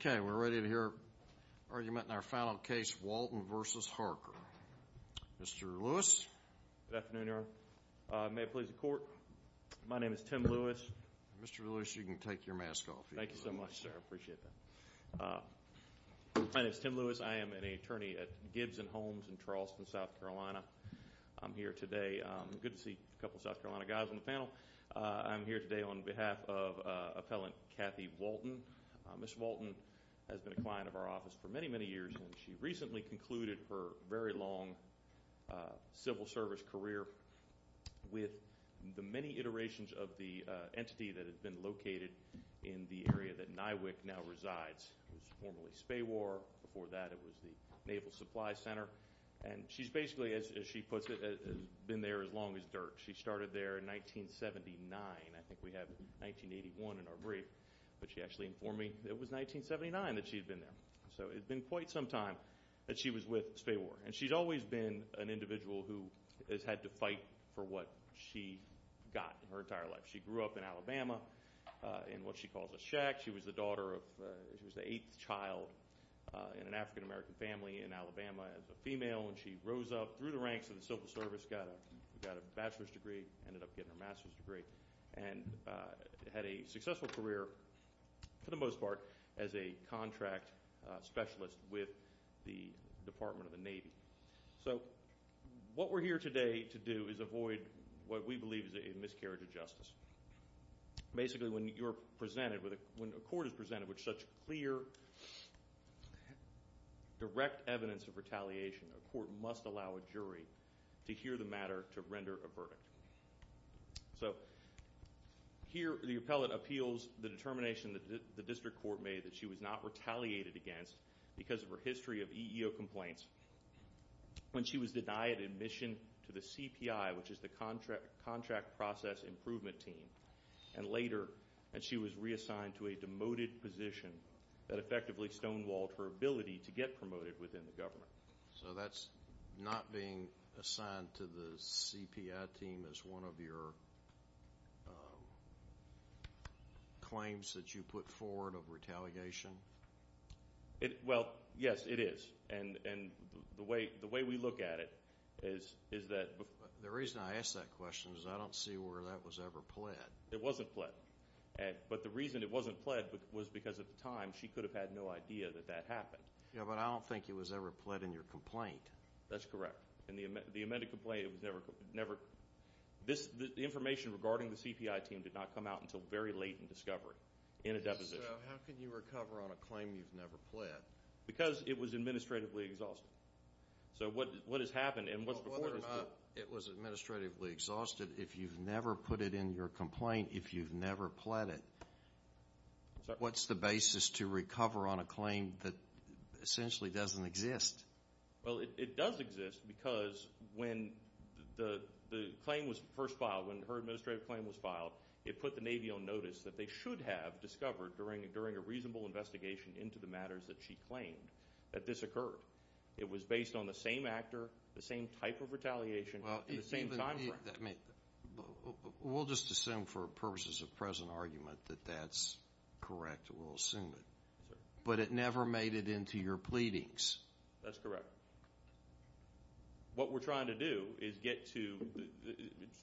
Okay, we're ready to hear an argument in our final case, Walton v. Harker. Mr. Lewis? Good afternoon, Your Honor. May it please the Court? My name is Tim Lewis. Mr. Lewis, you can take your mask off. Thank you so much, sir. I appreciate that. My name is Tim Lewis. I am an attorney at Gibbs and Holmes in Charleston, South Carolina. I'm here today. Good to see a couple of South Carolina guys on the panel. I'm here today on behalf of Appellant Kathy Walton. Ms. Walton has been a client of our office for many, many years, and she recently concluded her very long civil service career with the many iterations of the entity that had been located in the area that NYWIC now resides. It was formerly Spaywar. Before that, it was the Naval Supply Center. And she's basically, as she puts it, has been there as long as dirt. She started there in 1979. I think we have 1981 in our brief, but she actually informed me that it was 1979 that she had been there. So it had been quite some time that she was with Spaywar. And she's always been an individual who has had to fight for what she got her entire life. She grew up in Alabama in what she calls a shack. She was the daughter of, she was the eighth child in an African-American family in Alabama as a female. And she rose up through the ranks of the civil service, got a bachelor's degree, ended up getting her master's degree, and had a successful career, for the most part, as a contract specialist with the Department of the Navy. So what we're here today to do is avoid what we believe is a miscarriage of justice. Basically when you're presented with, when a court is presented with such clear, direct evidence of retaliation, a court must allow a jury to hear the matter to render a verdict. So here, the appellate appeals the determination that the district court made that she was not retaliated against because of her history of EEO complaints when she was denied admission to the CPI, which is the Contract Process Improvement Team. And later, she was reassigned to a demoted position that effectively stonewalled her to get promoted within the government. So that's not being assigned to the CPI team as one of your claims that you put forward of retaliation? Well, yes, it is. And the way we look at it is that... The reason I ask that question is I don't see where that was ever pled. It wasn't pled. But the reason it wasn't pled was because at the time she could have had no idea that that happened. Yeah, but I don't think it was ever pled in your complaint. That's correct. In the amended complaint, it was never... The information regarding the CPI team did not come out until very late in discovery, in a deposition. So how can you recover on a claim you've never pled? Because it was administratively exhausted. So what has happened and what's before this... Whether or not it was administratively exhausted, if you've never put it in your complaint, if you've never pled it, what's the basis to recover on a claim that essentially doesn't exist? Well, it does exist because when the claim was first filed, when her administrative claim was filed, it put the Navy on notice that they should have discovered, during a reasonable investigation into the matters that she claimed, that this occurred. It was based on the same actor, the same type of retaliation, and the same time frame. We'll just assume, for purposes of present argument, that that's correct. We'll assume it. But it never made it into your pleadings. That's correct. What we're trying to do is get to...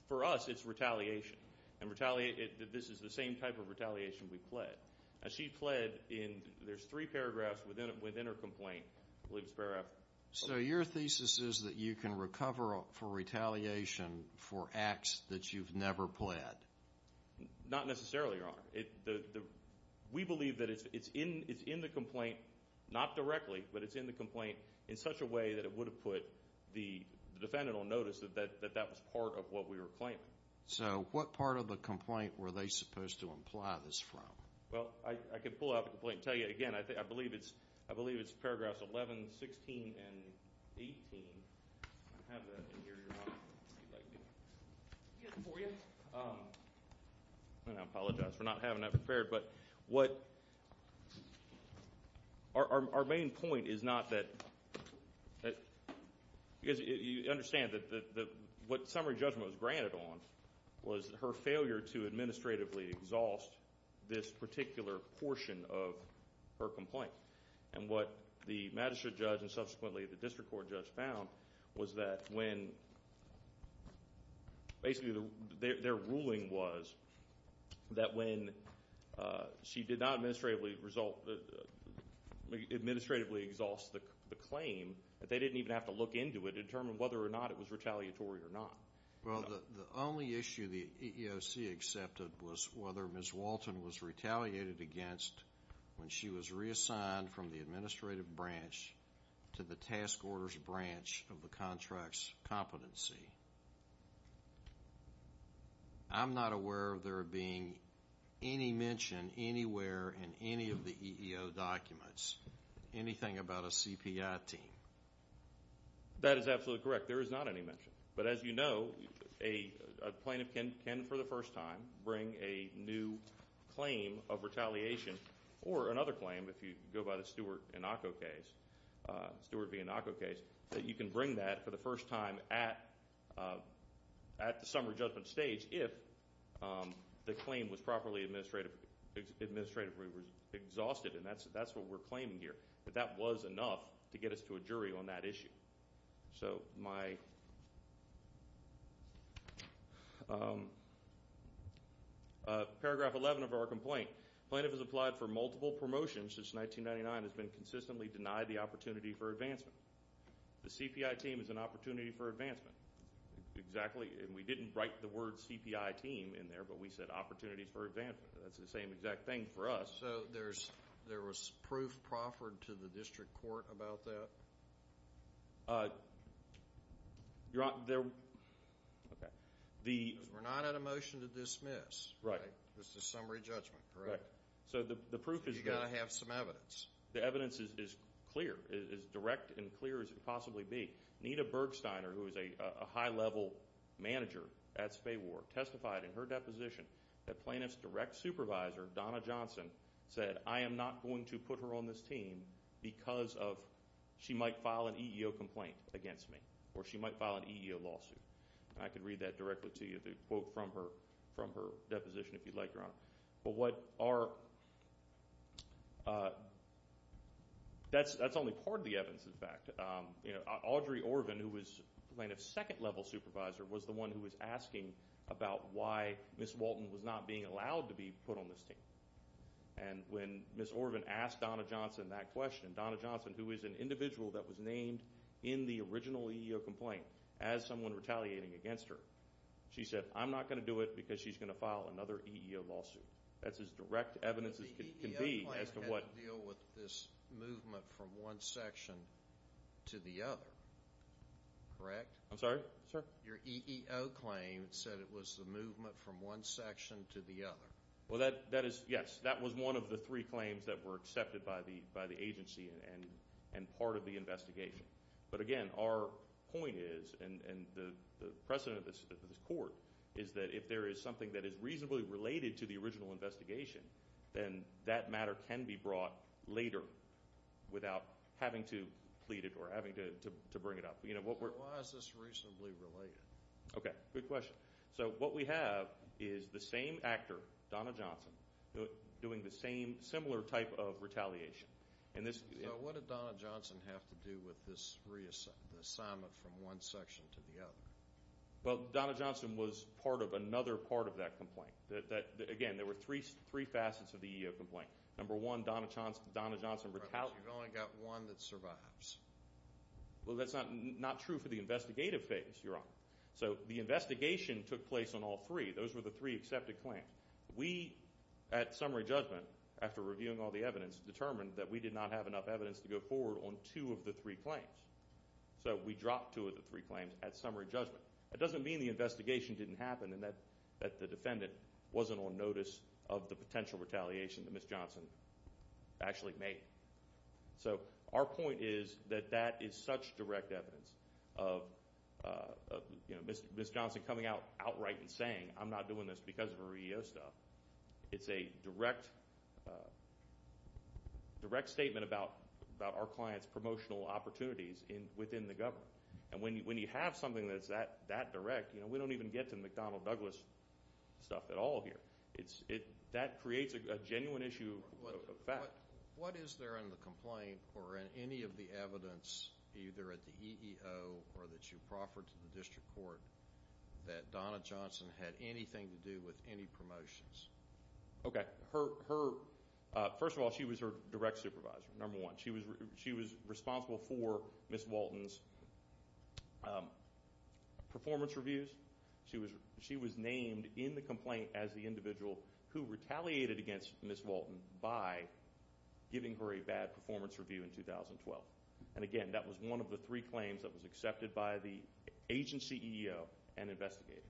For us, it's retaliation. And this is the same type of retaliation we pled. She pled in... There's three paragraphs within her complaint. I believe it's paragraph... So your thesis is that you can recover for retaliation for acts that you've never pled? Not necessarily, Your Honor. We believe that it's in the complaint, not directly, but it's in the complaint in such a way that it would have put the defendant on notice that that was part of what we were claiming. So what part of the complaint were they supposed to imply this from? Well, I can pull out the complaint and tell you again. I believe it's paragraphs 11, 16, and 18. I have that in here, Your Honor, if you'd like me to. Do you have it for you? I apologize for not having that prepared. But what... Our main point is not that... Because you understand that what summary judgment was granted on was her failure to administratively exhaust this particular portion of her complaint. And what the magistrate judge and subsequently the district court judge found was that when... Basically, their ruling was that when she did not administratively exhaust the claim, that they didn't even have to look into it to determine whether or not it was retaliatory or not. Well, the only issue the EEOC accepted was whether Ms. Walton was retaliated against when she was reassigned from the administrative branch to the task order's branch of the contract's competency. I'm not aware of there being any mention anywhere in any of the EEO documents, anything about a CPI team. That is absolutely correct. There is not any mention. But as you know, a plaintiff can, for the first time, bring a new claim of retaliation or another claim if you go by the Stewart-Vinaco case, that you can bring that for the first time at the summary judgment stage if the claim was properly administratively exhausted. And that's what we're claiming here, that that was enough to get us to a jury on that issue. So my paragraph 11 of our complaint, plaintiff has applied for multiple promotions since 1999 and has been consistently denied the opportunity for advancement. The CPI team is an opportunity for advancement. Exactly. And we didn't write the word CPI team in there, but we said opportunities for advancement. That's the same exact thing for us. So there was proof proffered to the district court about that? Because we're not at a motion to dismiss. Right. It's the summary judgment, correct? Right. So the proof is there. You've got to have some evidence. The evidence is clear, as direct and clear as it could possibly be. Nita Bergsteiner, who is a high-level manager at Spay War, testified in her deposition that plaintiff's direct supervisor, Donna Johnson, said, I am not going to put her on this team because she might file an EEO complaint against me, or she might file an EEO lawsuit. And I could read that directly to you, the quote from her deposition, if you'd like, Your Honor. But what our – that's only part of the evidence, in fact. Audrey Orvin, who was plaintiff's second-level supervisor, was the one who was asking about why Ms. Walton was not being allowed to be put on this team. And when Ms. Orvin asked Donna Johnson that question, Donna Johnson, who is an individual that was named in the original EEO complaint, as someone retaliating against her, she said, I'm not going to do it because she's going to file another EEO lawsuit. That's as direct evidence as can be as to what – But the EEO claim had to deal with this movement from one section to the other, correct? I'm sorry? Sir? Your EEO claim said it was the movement from one section to the other. Well, that is – yes. That was one of the three claims that were accepted by the agency and part of the investigation. But again, our point is, and the precedent of this court, is that if there is something that is reasonably related to the original investigation, then that matter can be brought later without having to plead it or having to bring it up. Why is this reasonably related? Okay, good question. So what we have is the same actor, Donna Johnson, doing the same similar type of retaliation. So what did Donna Johnson have to do with this reassignment from one section to the other? Well, Donna Johnson was part of another part of that complaint. Again, there were three facets of the EEO complaint. Number one, Donna Johnson retaliated. You've only got one that survives. Well, that's not true for the investigative phase, Your Honor. So the investigation took place on all three. Those were the three accepted claims. We, at summary judgment, after reviewing all the evidence, determined that we did not have enough evidence to go forward on two of the three claims. So we dropped two of the three claims at summary judgment. That doesn't mean the investigation didn't happen and that the defendant wasn't on notice of the potential retaliation that Ms. Johnson actually made. So our point is that that is such direct evidence of Ms. Johnson coming out outright and saying, I'm not doing this because of her EEO stuff. It's a direct statement about our clients' promotional opportunities within the government. And when you have something that's that direct, we don't even get to McDonnell Douglas stuff at all here. That creates a genuine issue of fact. What is there in the complaint or in any of the evidence either at the EEO or that you proffered to the district court that Donna Johnson had anything to do with any promotions? Okay. First of all, she was her direct supervisor, number one. She was responsible for Ms. Walton's performance reviews. She was named in the complaint as the individual who retaliated against Ms. Walton by giving her a bad performance review in 2012. And again, that was one of the three claims that was accepted by the agency EEO and investigated.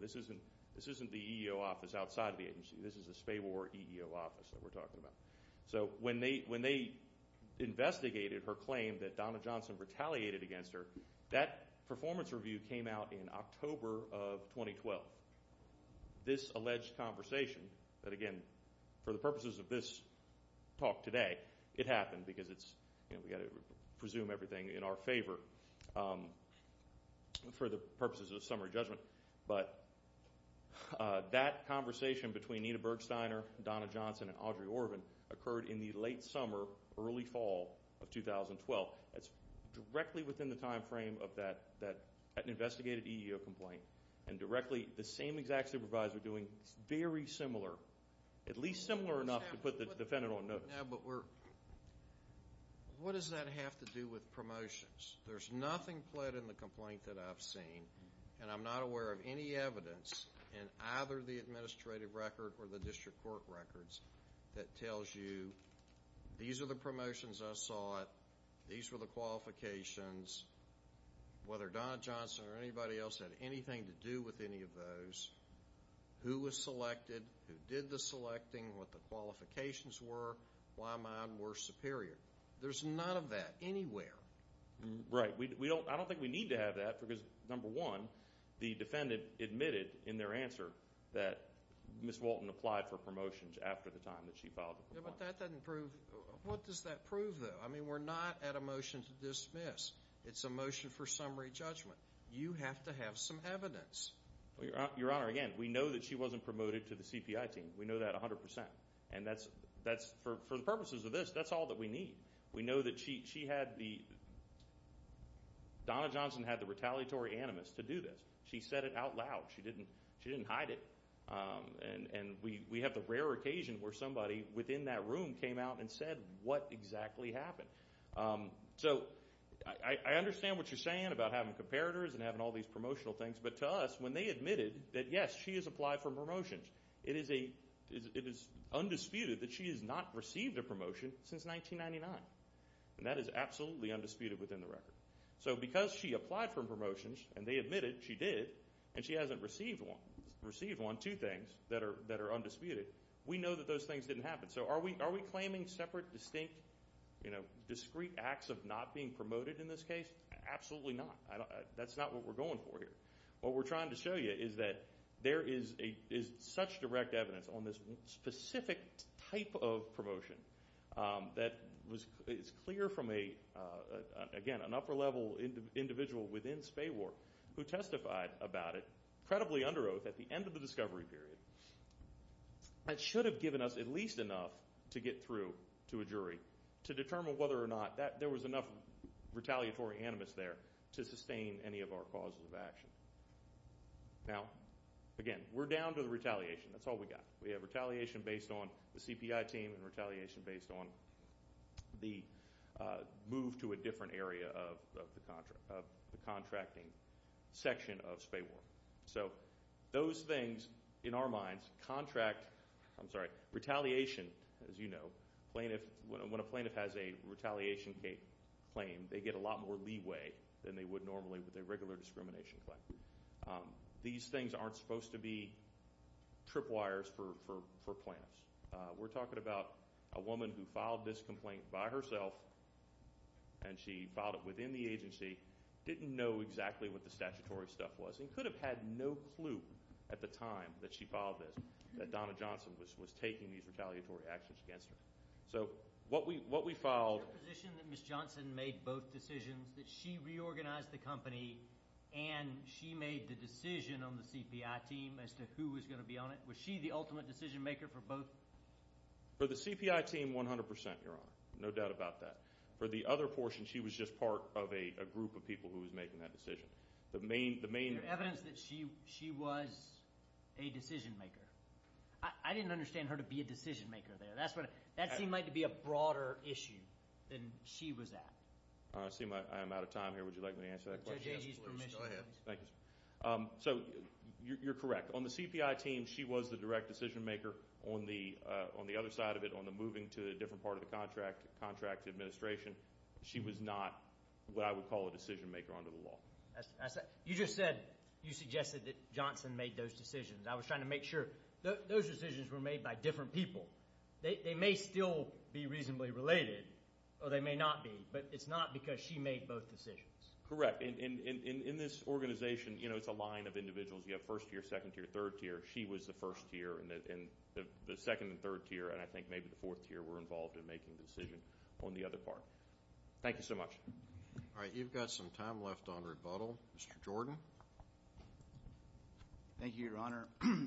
This isn't the EEO office outside of the agency. This is the Spabor EEO office that we're talking about. So when they investigated her claim that Donna Johnson retaliated against her, that performance review came out in October of 2012. This alleged conversation that, again, for the purposes of this talk today, it happened because we've got to presume everything in our favor for the purposes of summary judgment. But that conversation between Anita Bergsteiner, Donna Johnson, and Audrey Orvin occurred in the late summer, early fall of 2012. That's directly within the time frame of that investigated EEO complaint and directly the same exact supervisor doing very similar, at least similar enough to put the defendant on notice. Now, but what does that have to do with promotions? There's nothing pled in the complaint that I've seen, and I'm not aware of any evidence in either the administrative record or the district court records that tells you these are the promotions I sought, these were the qualifications, whether Donna Johnson or anybody else had anything to do with any of those, who was selected, who did the selecting, what the qualifications were, why mine were superior. There's none of that anywhere. Right. I don't think we need to have that because, number one, the defendant admitted in their answer that Ms. Walton applied for promotions after the time that she filed the complaint. Yeah, but that doesn't prove. What does that prove, though? I mean, we're not at a motion to dismiss. It's a motion for summary judgment. You have to have some evidence. Your Honor, again, we know that she wasn't promoted to the CPI team. We know that 100%. And that's, for the purposes of this, that's all that we need. We know that she had the, Donna Johnson had the retaliatory animus to do this. She said it out loud. She didn't hide it. And we have the rare occasion where somebody within that room came out and said what exactly happened. So I understand what you're saying about having comparators and having all these promotional things. But to us, when they admitted that, yes, she has applied for promotions, it is undisputed that she has not received a promotion since 1999. And that is absolutely undisputed within the record. So because she applied for promotions and they admitted she did and she hasn't received one, two things that are undisputed, we know that those things didn't happen. So are we claiming separate, distinct, discrete acts of not being promoted in this case? Absolutely not. That's not what we're going for here. What we're trying to show you is that there is such direct evidence on this specific type of promotion that is clear from, again, an upper-level individual within Spay War who testified about it, credibly under oath, at the end of the discovery period. That should have given us at least enough to get through to a jury to determine whether or not there was enough retaliatory animus there to sustain any of our causes of action. Now, again, we're down to the retaliation. That's all we've got. We have retaliation based on the CPI team and retaliation based on the move to a different area of the contracting section of Spay War. So those things, in our minds, contract – I'm sorry, retaliation, as you know, plaintiff – when a plaintiff has a retaliation claim, they get a lot more leeway than they would normally with a regular discrimination claim. These things aren't supposed to be tripwires for plaintiffs. We're talking about a woman who filed this complaint by herself, and she filed it within the agency, didn't know exactly what the statutory stuff was and could have had no clue at the time that she filed this that Donna Johnson was taking these retaliatory actions against her. So what we filed – Is it your position that Ms. Johnson made both decisions, that she reorganized the company and she made the decision on the CPI team as to who was going to be on it? Was she the ultimate decision maker for both? For the CPI team, 100 percent, Your Honor. No doubt about that. For the other portion, she was just part of a group of people who was making that decision. Is there evidence that she was a decision maker? I didn't understand her to be a decision maker there. That seemed like to be a broader issue than she was at. I'm out of time here. Would you like me to answer that question? Go ahead. So you're correct. On the CPI team, she was the direct decision maker. On the other side of it, on the moving to a different part of the contract administration, she was not what I would call a decision maker under the law. You just said you suggested that Johnson made those decisions. I was trying to make sure. Those decisions were made by different people. They may still be reasonably related, or they may not be, but it's not because she made both decisions. Correct. In this organization, it's a line of individuals. You have first tier, second tier, third tier. She was the first tier, and the second and third tier, and I think maybe the fourth tier, were involved in making the decision on the other part. Thank you so much. All right. You've got some time left on rebuttal. Mr. Jordan. Thank you, Your Honor.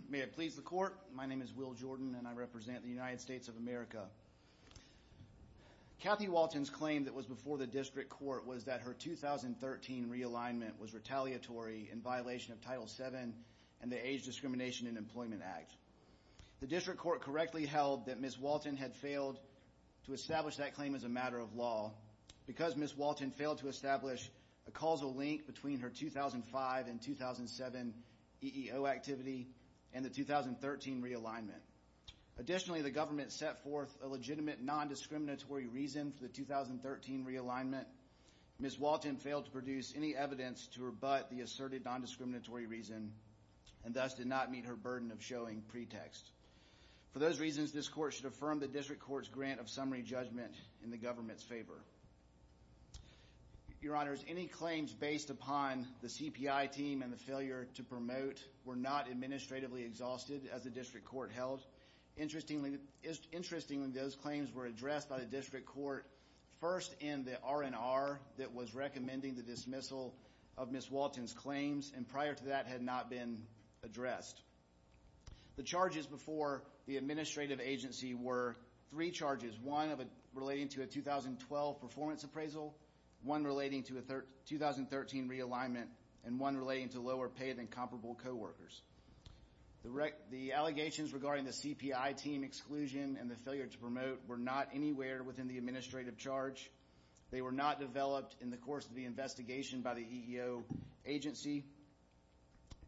May it please the Court, my name is Will Jordan, and I represent the United States of America. Kathy Walton's claim that was before the district court was that her 2013 realignment was retaliatory in violation of Title VII and the Age Discrimination in Employment Act. The district court correctly held that Ms. Walton had failed to establish that claim as a matter of law because Ms. Walton failed to establish a causal link between her 2005 and 2007 EEO activity and the 2013 realignment. Additionally, the government set forth a legitimate nondiscriminatory reason for the 2013 realignment. Ms. Walton failed to produce any evidence to rebut the asserted nondiscriminatory reason and thus did not meet her burden of showing pretext. For those reasons, this court should affirm the district court's grant of summary judgment in the government's favor. Your Honors, any claims based upon the CPI team and the failure to promote were not administratively exhausted as the district court held. Interestingly, those claims were addressed by the district court first in the R&R that was recommending the dismissal of Ms. Walton's claims and prior to that had not been addressed. The charges before the administrative agency were three charges, one relating to a 2012 performance appraisal, one relating to a 2013 realignment, and one relating to lower paid and comparable coworkers. The allegations regarding the CPI team exclusion and the failure to promote were not anywhere within the administrative charge. They were not developed in the course of the investigation by the EEO agency.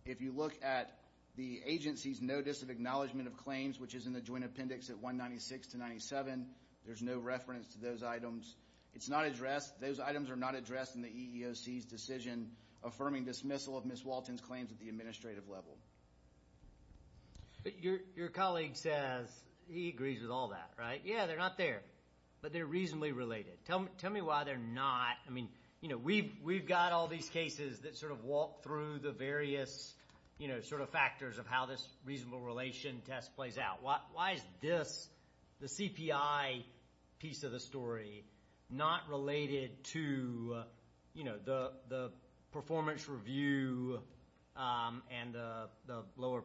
If you look at the agency's notice of acknowledgement of claims, which is in the joint appendix at 196 to 97, there's no reference to those items. It's not addressed. Those items are not addressed in the EEOC's decision affirming dismissal of Ms. Walton's claims at the administrative level. But your colleague says he agrees with all that, right? Yeah, they're not there, but they're reasonably related. Tell me why they're not. We've got all these cases that sort of walk through the various factors of how this reasonable relation test plays out. Why is this, the CPI piece of the story, not related to the performance review and the lower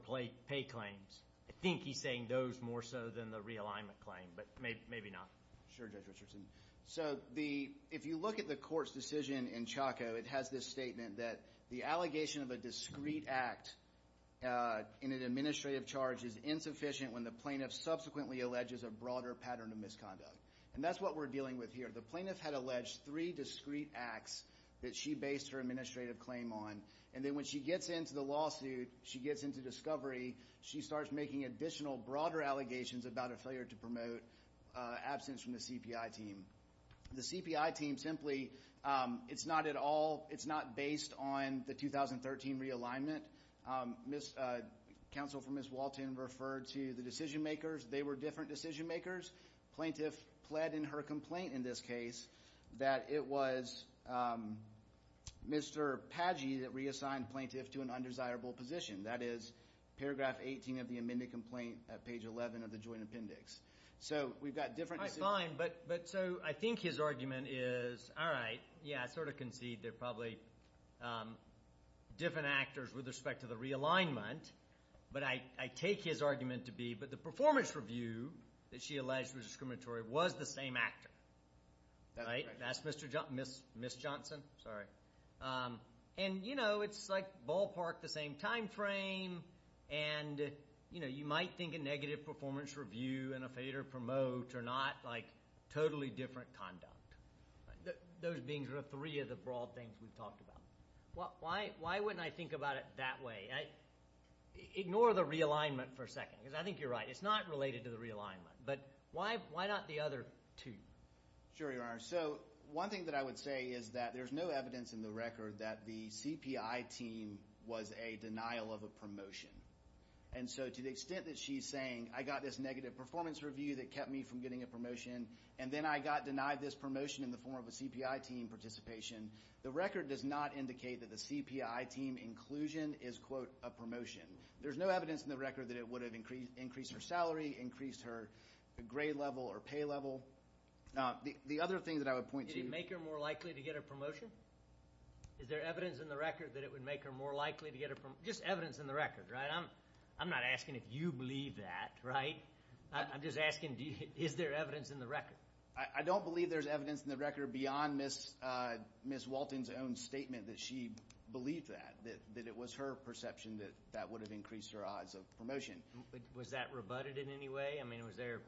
pay claims? I think he's saying those more so than the realignment claim, but maybe not. Sure, Judge Richardson. So if you look at the court's decision in Chaco, it has this statement that the allegation of a discreet act in an administrative charge is insufficient when the plaintiff subsequently alleges a broader pattern of misconduct. And that's what we're dealing with here. The plaintiff had alleged three discreet acts that she based her administrative claim on, and then when she gets into the lawsuit, she gets into discovery, she starts making additional broader allegations about a failure to promote absence from the CPI team. The CPI team simply, it's not at all, it's not based on the 2013 realignment. Counsel for Ms. Walton referred to the decision makers. They were different decision makers. The plaintiff pled in her complaint in this case that it was Mr. Pagy that reassigned plaintiff to an undesirable position. That is paragraph 18 of the amended complaint at page 11 of the joint appendix. So we've got different decisions. All right, fine, but so I think his argument is, all right, yeah, I sort of concede they're probably different actors with respect to the realignment, but I take his argument to be, but the performance review that she alleged was discriminatory was the same actor. That's Mr. Johnson, Ms. Johnson, sorry. And, you know, it's like ballpark the same time frame, and, you know, you might think a negative performance review and a failure to promote are not like totally different conduct. Those being sort of three of the broad things we've talked about. Why wouldn't I think about it that way? Ignore the realignment for a second, because I think you're right. It's not related to the realignment. But why not the other two? Sure, Your Honor. So one thing that I would say is that there's no evidence in the record that the CPI team was a denial of a promotion. And so to the extent that she's saying I got this negative performance review that kept me from getting a promotion, and then I got denied this promotion in the form of a CPI team participation, the record does not indicate that the CPI team inclusion is, quote, a promotion. There's no evidence in the record that it would have increased her salary, increased her grade level or pay level. The other thing that I would point to you. Did it make her more likely to get a promotion? Is there evidence in the record that it would make her more likely to get a promotion? Just evidence in the record, right? I'm not asking if you believe that, right? I'm just asking is there evidence in the record? I don't believe there's evidence in the record beyond Ms. Walton's own statement that she believed that, that it was her perception that that would have increased her odds of promotion. Was that rebutted in any way? I mean, was there,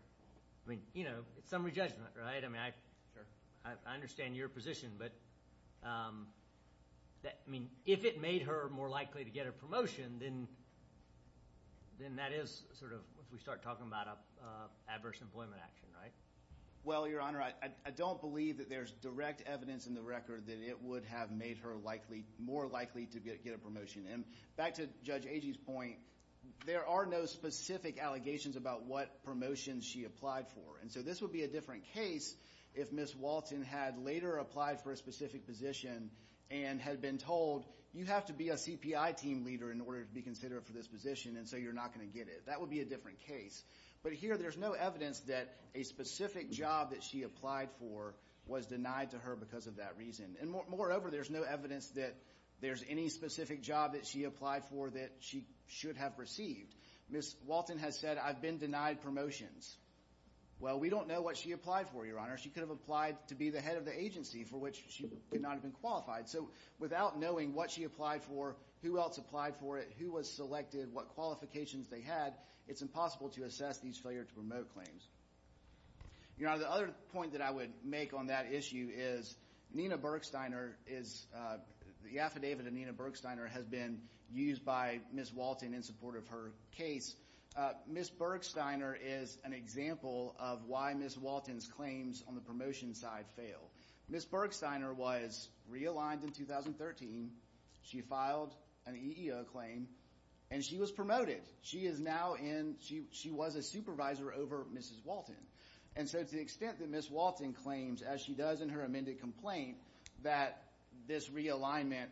I mean, you know, it's summary judgment, right? I mean, I understand your position, but, I mean, if it made her more likely to get a promotion, then that is sort of if we start talking about adverse employment action, right? Well, Your Honor, I don't believe that there's direct evidence in the record that it would have made her likely, more likely to get a promotion. And back to Judge Agee's point, there are no specific allegations about what promotions she applied for. And so this would be a different case if Ms. Walton had later applied for a specific position and had been told, you have to be a CPI team leader in order to be considered for this position, and so you're not going to get it. That would be a different case. But here there's no evidence that a specific job that she applied for was denied to her because of that reason. And moreover, there's no evidence that there's any specific job that she applied for that she should have received. Ms. Walton has said, I've been denied promotions. Well, we don't know what she applied for, Your Honor. She could have applied to be the head of the agency for which she could not have been qualified. So without knowing what she applied for, who else applied for it, who was selected, what qualifications they had, it's impossible to assess these failure to promote claims. Your Honor, the other point that I would make on that issue is Nina Bergsteiner is the affidavit of Nina Bergsteiner has been used by Ms. Walton in support of her case. Ms. Bergsteiner is an example of why Ms. Walton's claims on the promotion side fail. Ms. Bergsteiner was realigned in 2013. She filed an EEO claim, and she was promoted. She was a supervisor over Mrs. Walton. And so to the extent that Ms. Walton claims, as she does in her amended complaint, that this realignment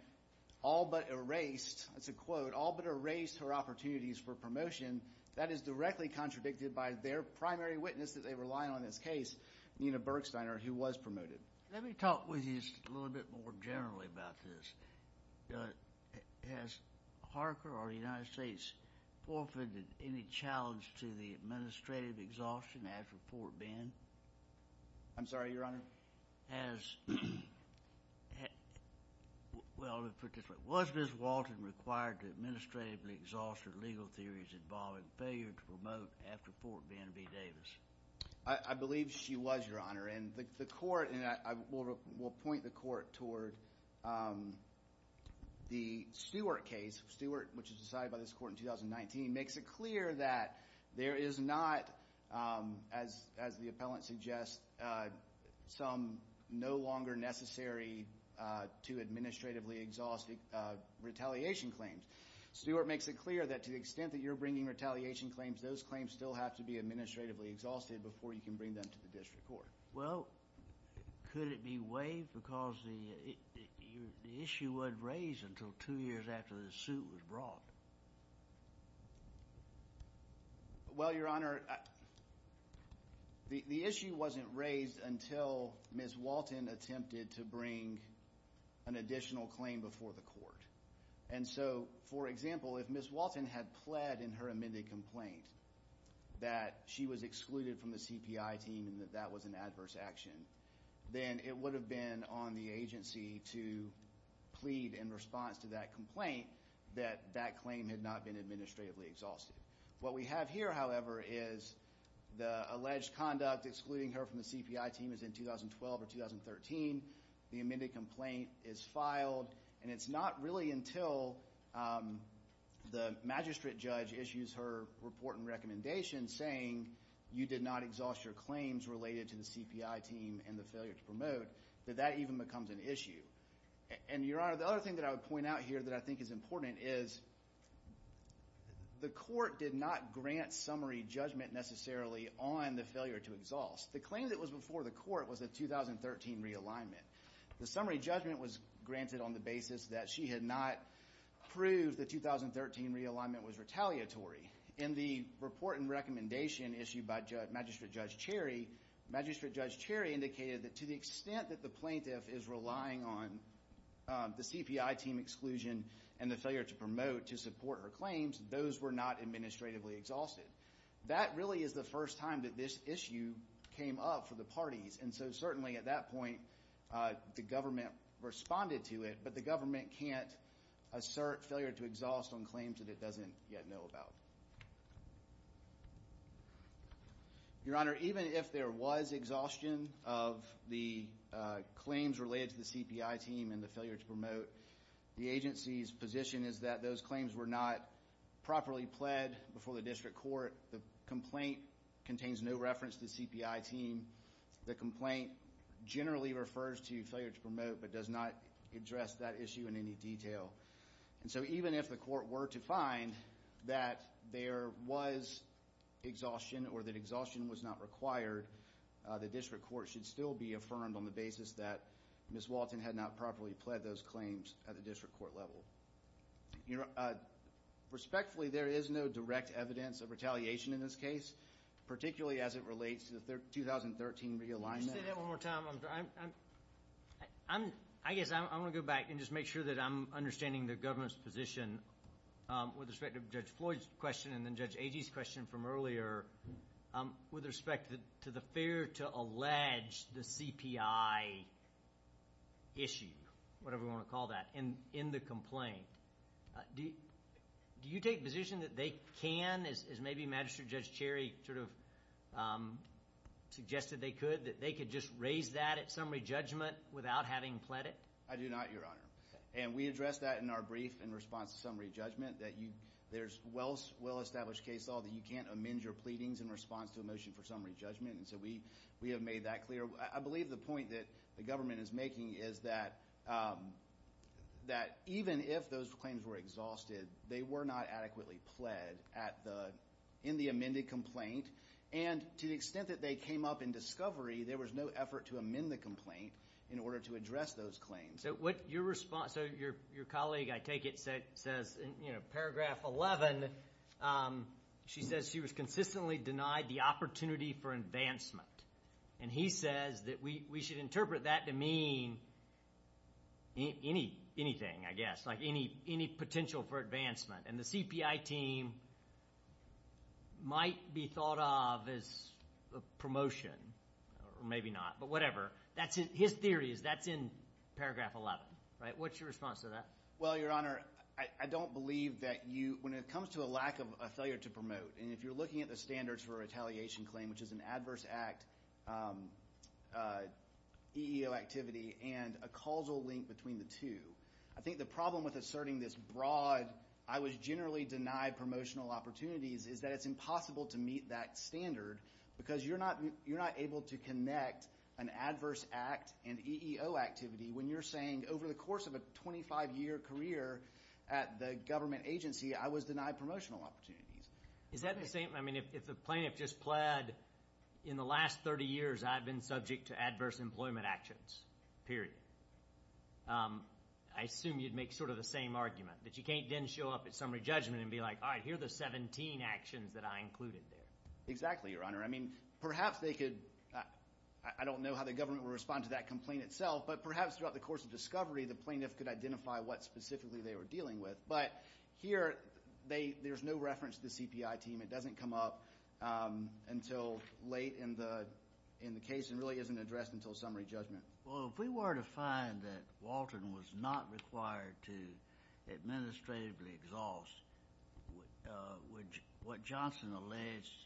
all but erased, that's a quote, all but erased her opportunities for promotion, that is directly contradicted by their primary witness that they rely on in this case, Nina Bergsteiner, who was promoted. Let me talk with you just a little bit more generally about this. Has Harker or the United States forfeited any challenge to the administrative exhaustion after Port Bend? I'm sorry, Your Honor? Has – well, let me put this way. Was Ms. Walton required to administratively exhaust her legal theories involving failure to promote after Port Bend v. Davis? I believe she was, Your Honor. And the court – and I will point the court toward the Stewart case. Stewart, which was decided by this court in 2019, makes it clear that there is not, as the appellant suggests, some no longer necessary to administratively exhaust retaliation claims. Stewart makes it clear that to the extent that you're bringing retaliation claims, those claims still have to be administratively exhausted before you can bring them to the district court. Well, could it be waived because the issue wasn't raised until two years after the suit was brought? Well, Your Honor, the issue wasn't raised until Ms. Walton attempted to bring an additional claim before the court. And so, for example, if Ms. Walton had pled in her amended complaint that she was excluded from the CPI team and that that was an adverse action, then it would have been on the agency to plead in response to that complaint that that claim had not been administratively exhausted. What we have here, however, is the alleged conduct excluding her from the CPI team is in 2012 or 2013. The amended complaint is filed. And it's not really until the magistrate judge issues her report and recommendation saying you did not exhaust your claims related to the CPI team and the failure to promote that that even becomes an issue. And, Your Honor, the other thing that I would point out here that I think is important is the court did not grant summary judgment necessarily on the failure to exhaust. The claim that was before the court was a 2013 realignment. The summary judgment was granted on the basis that she had not proved the 2013 realignment was retaliatory. In the report and recommendation issued by Magistrate Judge Cherry, Magistrate Judge Cherry indicated that to the extent that the plaintiff is relying on the CPI team exclusion and the failure to promote to support her claims, those were not administratively exhausted. That really is the first time that this issue came up for the parties. And so certainly at that point, the government responded to it, but the government can't assert failure to exhaust on claims that it doesn't yet know about. Your Honor, even if there was exhaustion of the claims related to the CPI team and the failure to promote, the agency's position is that those claims were not properly pled before the district court. The complaint contains no reference to the CPI team. The complaint generally refers to failure to promote but does not address that issue in any detail. And so even if the court were to find that there was exhaustion or that exhaustion was not required, the district court should still be affirmed on the basis that Ms. Walton had not properly pled those claims at the district court level. Your Honor, respectfully, there is no direct evidence of retaliation in this case, particularly as it relates to the 2013 realignment. Could you say that one more time? I guess I want to go back and just make sure that I'm understanding the government's position with respect to Judge Floyd's question and then Judge Agee's question from earlier with respect to the fear to allege the CPI issue, whatever you want to call that, in the complaint. Do you take the position that they can, as maybe Magistrate Judge Cherry sort of suggested they could, that they could just raise that at summary judgment without having pled it? I do not, Your Honor. And we addressed that in our brief in response to summary judgment, that there's well-established case law that you can't amend your pleadings in response to a motion for summary judgment. And so we have made that clear. I believe the point that the government is making is that even if those claims were exhausted, they were not adequately pled in the amended complaint. And to the extent that they came up in discovery, there was no effort to amend the complaint in order to address those claims. So your colleague, I take it, says in paragraph 11, she says she was consistently denied the opportunity for advancement. And he says that we should interpret that to mean anything, I guess, like any potential for advancement. And the CPI team might be thought of as a promotion or maybe not, but whatever. His theory is that's in paragraph 11. What's your response to that? Well, Your Honor, I don't believe that you – when it comes to a lack of a failure to promote, and if you're looking at the standards for a retaliation claim, which is an adverse act, EEO activity, and a causal link between the two, I think the problem with asserting this broad, I was generally denied promotional opportunities is that it's impossible to meet that standard because you're not able to connect an adverse act and EEO activity when you're saying, over the course of a 25-year career at the government agency, I was denied promotional opportunities. Is that the same – I mean, if the plaintiff just pled in the last 30 years I've been subject to adverse employment actions, period, I assume you'd make sort of the same argument, that you can't then show up at summary judgment and be like, all right, here are the 17 actions that I included there. Exactly, Your Honor. I mean, perhaps they could – I don't know how the government would respond to that complaint itself, but perhaps throughout the course of discovery the plaintiff could identify what specifically they were dealing with. But here there's no reference to the CPI team. It doesn't come up until late in the case and really isn't addressed until summary judgment. Well, if we were to find that Walton was not required to administratively exhaust what Johnson alleged –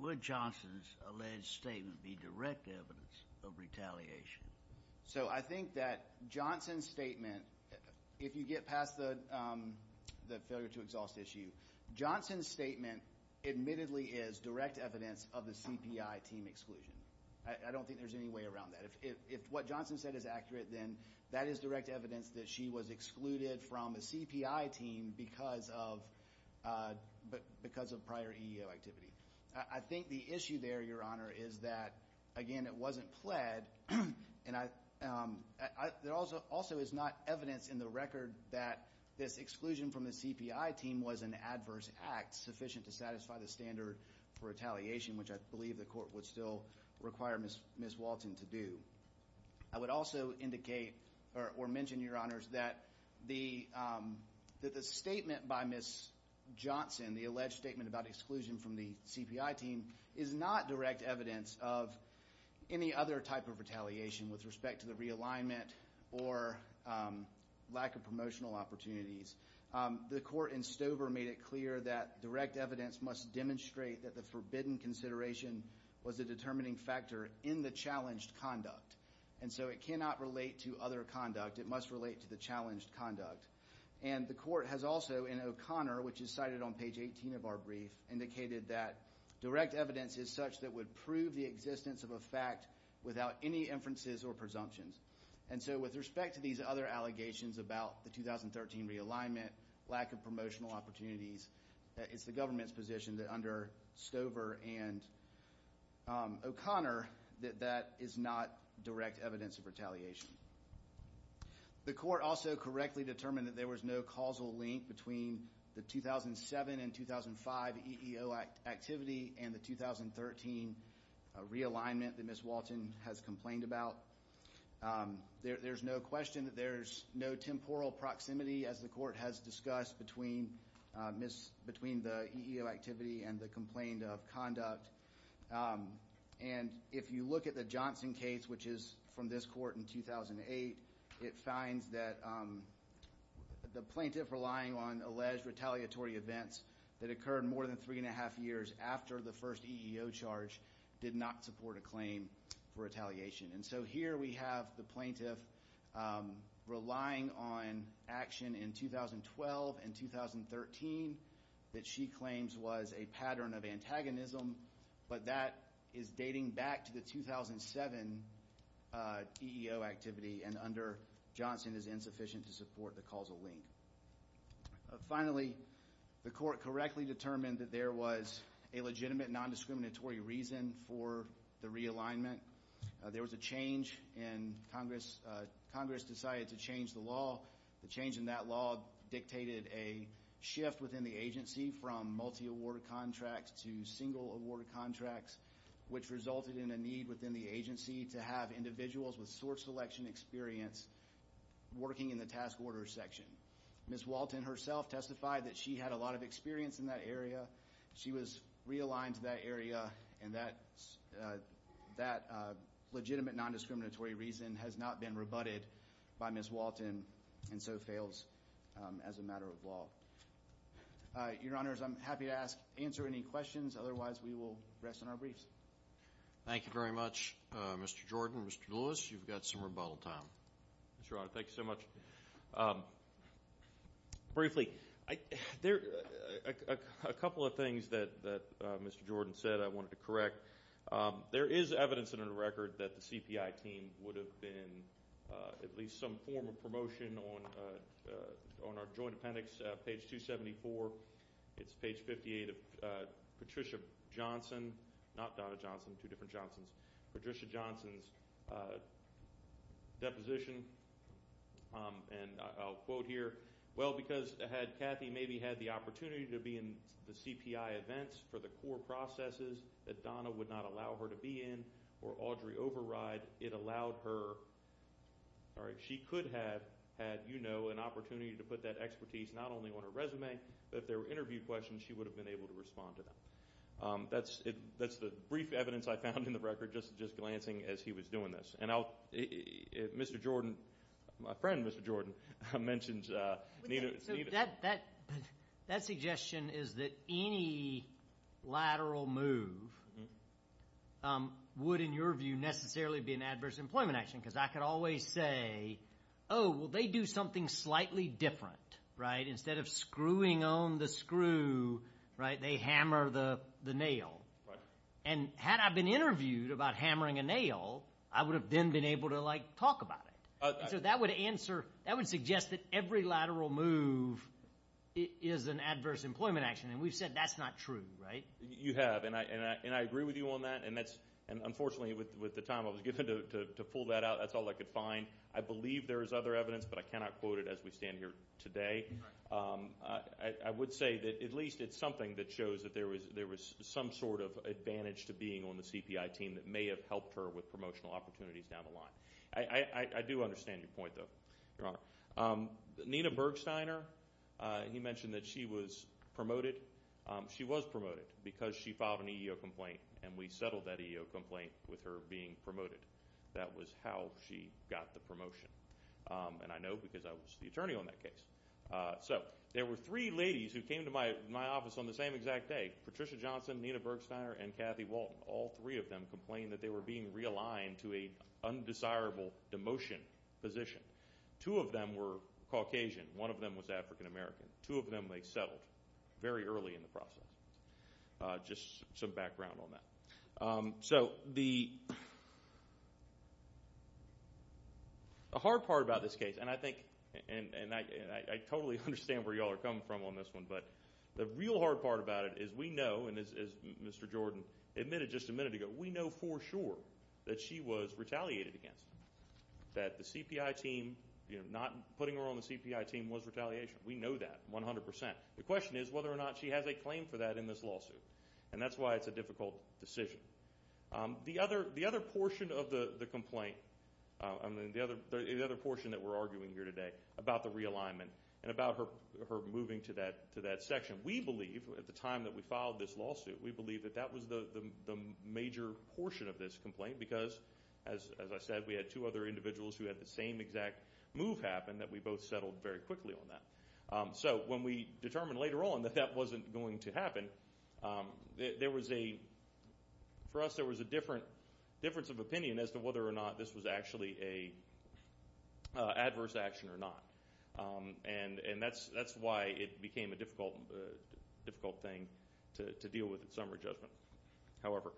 would Johnson's alleged statement be direct evidence of retaliation? So I think that Johnson's statement, if you get past the failure to exhaust issue, Johnson's statement admittedly is direct evidence of the CPI team exclusion. I don't think there's any way around that. If what Johnson said is accurate, then that is direct evidence that she was excluded from the CPI team because of prior EEO activity. I think the issue there, Your Honor, is that, again, it wasn't pled, and there also is not evidence in the record that this exclusion from the CPI team was an adverse act sufficient to satisfy the standard for retaliation, which I believe the court would still require Ms. Walton to do. I would also indicate or mention, Your Honors, that the statement by Ms. Johnson, the alleged statement about exclusion from the CPI team, is not direct evidence of any other type of retaliation with respect to the realignment or lack of promotional opportunities. The court in Stover made it clear that direct evidence must demonstrate that the forbidden consideration was a determining factor in the challenged conduct. And so it cannot relate to other conduct. It must relate to the challenged conduct. And the court has also, in O'Connor, which is cited on page 18 of our brief, indicated that direct evidence is such that would prove the existence of a fact without any inferences or presumptions. And so with respect to these other allegations about the 2013 realignment, lack of promotional opportunities, it's the government's position that under Stover and O'Connor that that is not direct evidence of retaliation. The court also correctly determined that there was no causal link between the 2007 and 2005 EEO activity and the 2013 realignment that Ms. Walton has complained about. There's no question that there's no temporal proximity, as the court has discussed, between the EEO activity and the complaint of conduct. And if you look at the Johnson case, which is from this court in 2008, it finds that the plaintiff relying on alleged retaliatory events that occurred more than three and a half years after the first EEO charge did not support a claim for retaliation. And so here we have the plaintiff relying on action in 2012 and 2013 that she claims was a pattern of antagonism but that is dating back to the 2007 EEO activity and under Johnson is insufficient to support the causal link. Finally, the court correctly determined that there was a legitimate nondiscriminatory reason for the realignment. There was a change in Congress. Congress decided to change the law. The change in that law dictated a shift within the agency from multi-award contracts to single-award contracts, which resulted in a need within the agency to have individuals with sort selection experience working in the task order section. Ms. Walton herself testified that she had a lot of experience in that area. She was realigned to that area and that legitimate nondiscriminatory reason has not been rebutted by Ms. Walton and so fails as a matter of law. Your Honors, I'm happy to answer any questions. Otherwise, we will rest on our briefs. Thank you very much, Mr. Jordan. Mr. Lewis, you've got some rebuttal time. Thank you so much. Briefly, there are a couple of things that Mr. Jordan said I wanted to correct. There is evidence in the record that the CPI team would have been at least some form of promotion on our joint appendix, page 274. It's page 58 of Patricia Johnson, not Donna Johnson, two different Johnsons, Patricia Johnson's deposition, and I'll quote here, well, because had Kathy maybe had the opportunity to be in the CPI events for the core processes that Donna would not allow her to be in or Audrey Override, it allowed her, she could have had, you know, an opportunity to put that expertise not only on her resume, but if there were interview questions, she would have been able to respond to them. That's the brief evidence I found in the record, just glancing as he was doing this. And I'll, Mr. Jordan, my friend, Mr. Jordan, mentioned Nina. That suggestion is that any lateral move would, in your view, necessarily be an adverse employment action, because I could always say, oh, well, they do something slightly different, right? And had I been interviewed about hammering a nail, I would have then been able to, like, talk about it. So that would answer, that would suggest that every lateral move is an adverse employment action. And we've said that's not true, right? You have, and I agree with you on that. And that's, unfortunately, with the time I was given to pull that out, that's all I could find. I believe there is other evidence, but I cannot quote it as we stand here today. I would say that at least it's something that shows that there was some sort of advantage to being on the CPI team that may have helped her with promotional opportunities down the line. I do understand your point, though, Your Honor. Nina Bergsteiner, you mentioned that she was promoted. She was promoted because she filed an EEO complaint, and we settled that EEO complaint with her being promoted. That was how she got the promotion. And I know because I was the attorney on that case. So there were three ladies who came to my office on the same exact day, Patricia Johnson, Nina Bergsteiner, and Kathy Walton. All three of them complained that they were being realigned to an undesirable demotion position. Two of them were Caucasian. One of them was African American. Two of them, they settled very early in the process. Just some background on that. So the hard part about this case, and I think and I totally understand where you all are coming from on this one, but the real hard part about it is we know, and as Mr. Jordan admitted just a minute ago, we know for sure that she was retaliated against. That the CPI team, you know, not putting her on the CPI team was retaliation. We know that 100%. The question is whether or not she has a claim for that in this lawsuit. And that's why it's a difficult decision. The other portion of the complaint, the other portion that we're arguing here today about the realignment and about her moving to that section, we believe, at the time that we filed this lawsuit, we believe that that was the major portion of this complaint because, as I said, we had two other individuals who had the same exact move happen that we both settled very quickly on that. So when we determined later on that that wasn't going to happen, there was a, for us, there was a difference of opinion as to whether or not this was actually an adverse action or not. And that's why it became a difficult thing to deal with in summary judgment. However,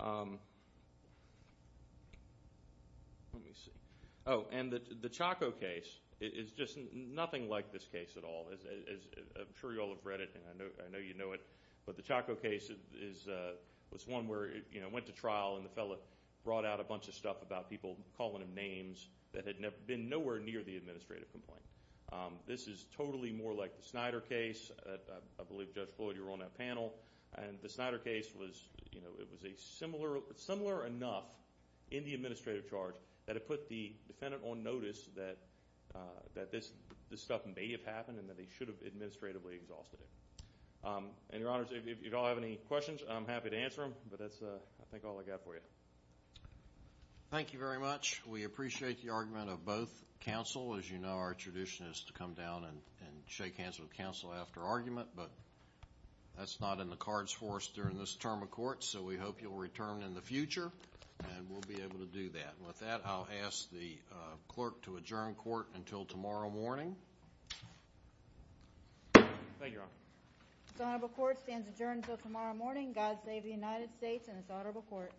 let me see. Oh, and the Chaco case is just nothing like this case at all. I'm sure you all have read it, and I know you know it. But the Chaco case was one where it went to trial, and the fellow brought out a bunch of stuff about people calling him names that had been nowhere near the administrative complaint. This is totally more like the Snyder case. I believe Judge Floyd, you were on that panel. And the Snyder case was, you know, it was similar enough in the administrative charge that it put the defendant on notice that this stuff may have happened and that they should have administratively exhausted it. And, Your Honors, if you all have any questions, I'm happy to answer them. But that's, I think, all I've got for you. Thank you very much. We appreciate the argument of both counsel. As you know, our tradition is to come down and shake hands with counsel after argument. But that's not in the cards for us during this term of court. So we hope you'll return in the future, and we'll be able to do that. With that, I'll ask the clerk to adjourn court until tomorrow morning. Thank you, Your Honor. This honorable court stands adjourned until tomorrow morning. God save the United States and this honorable court.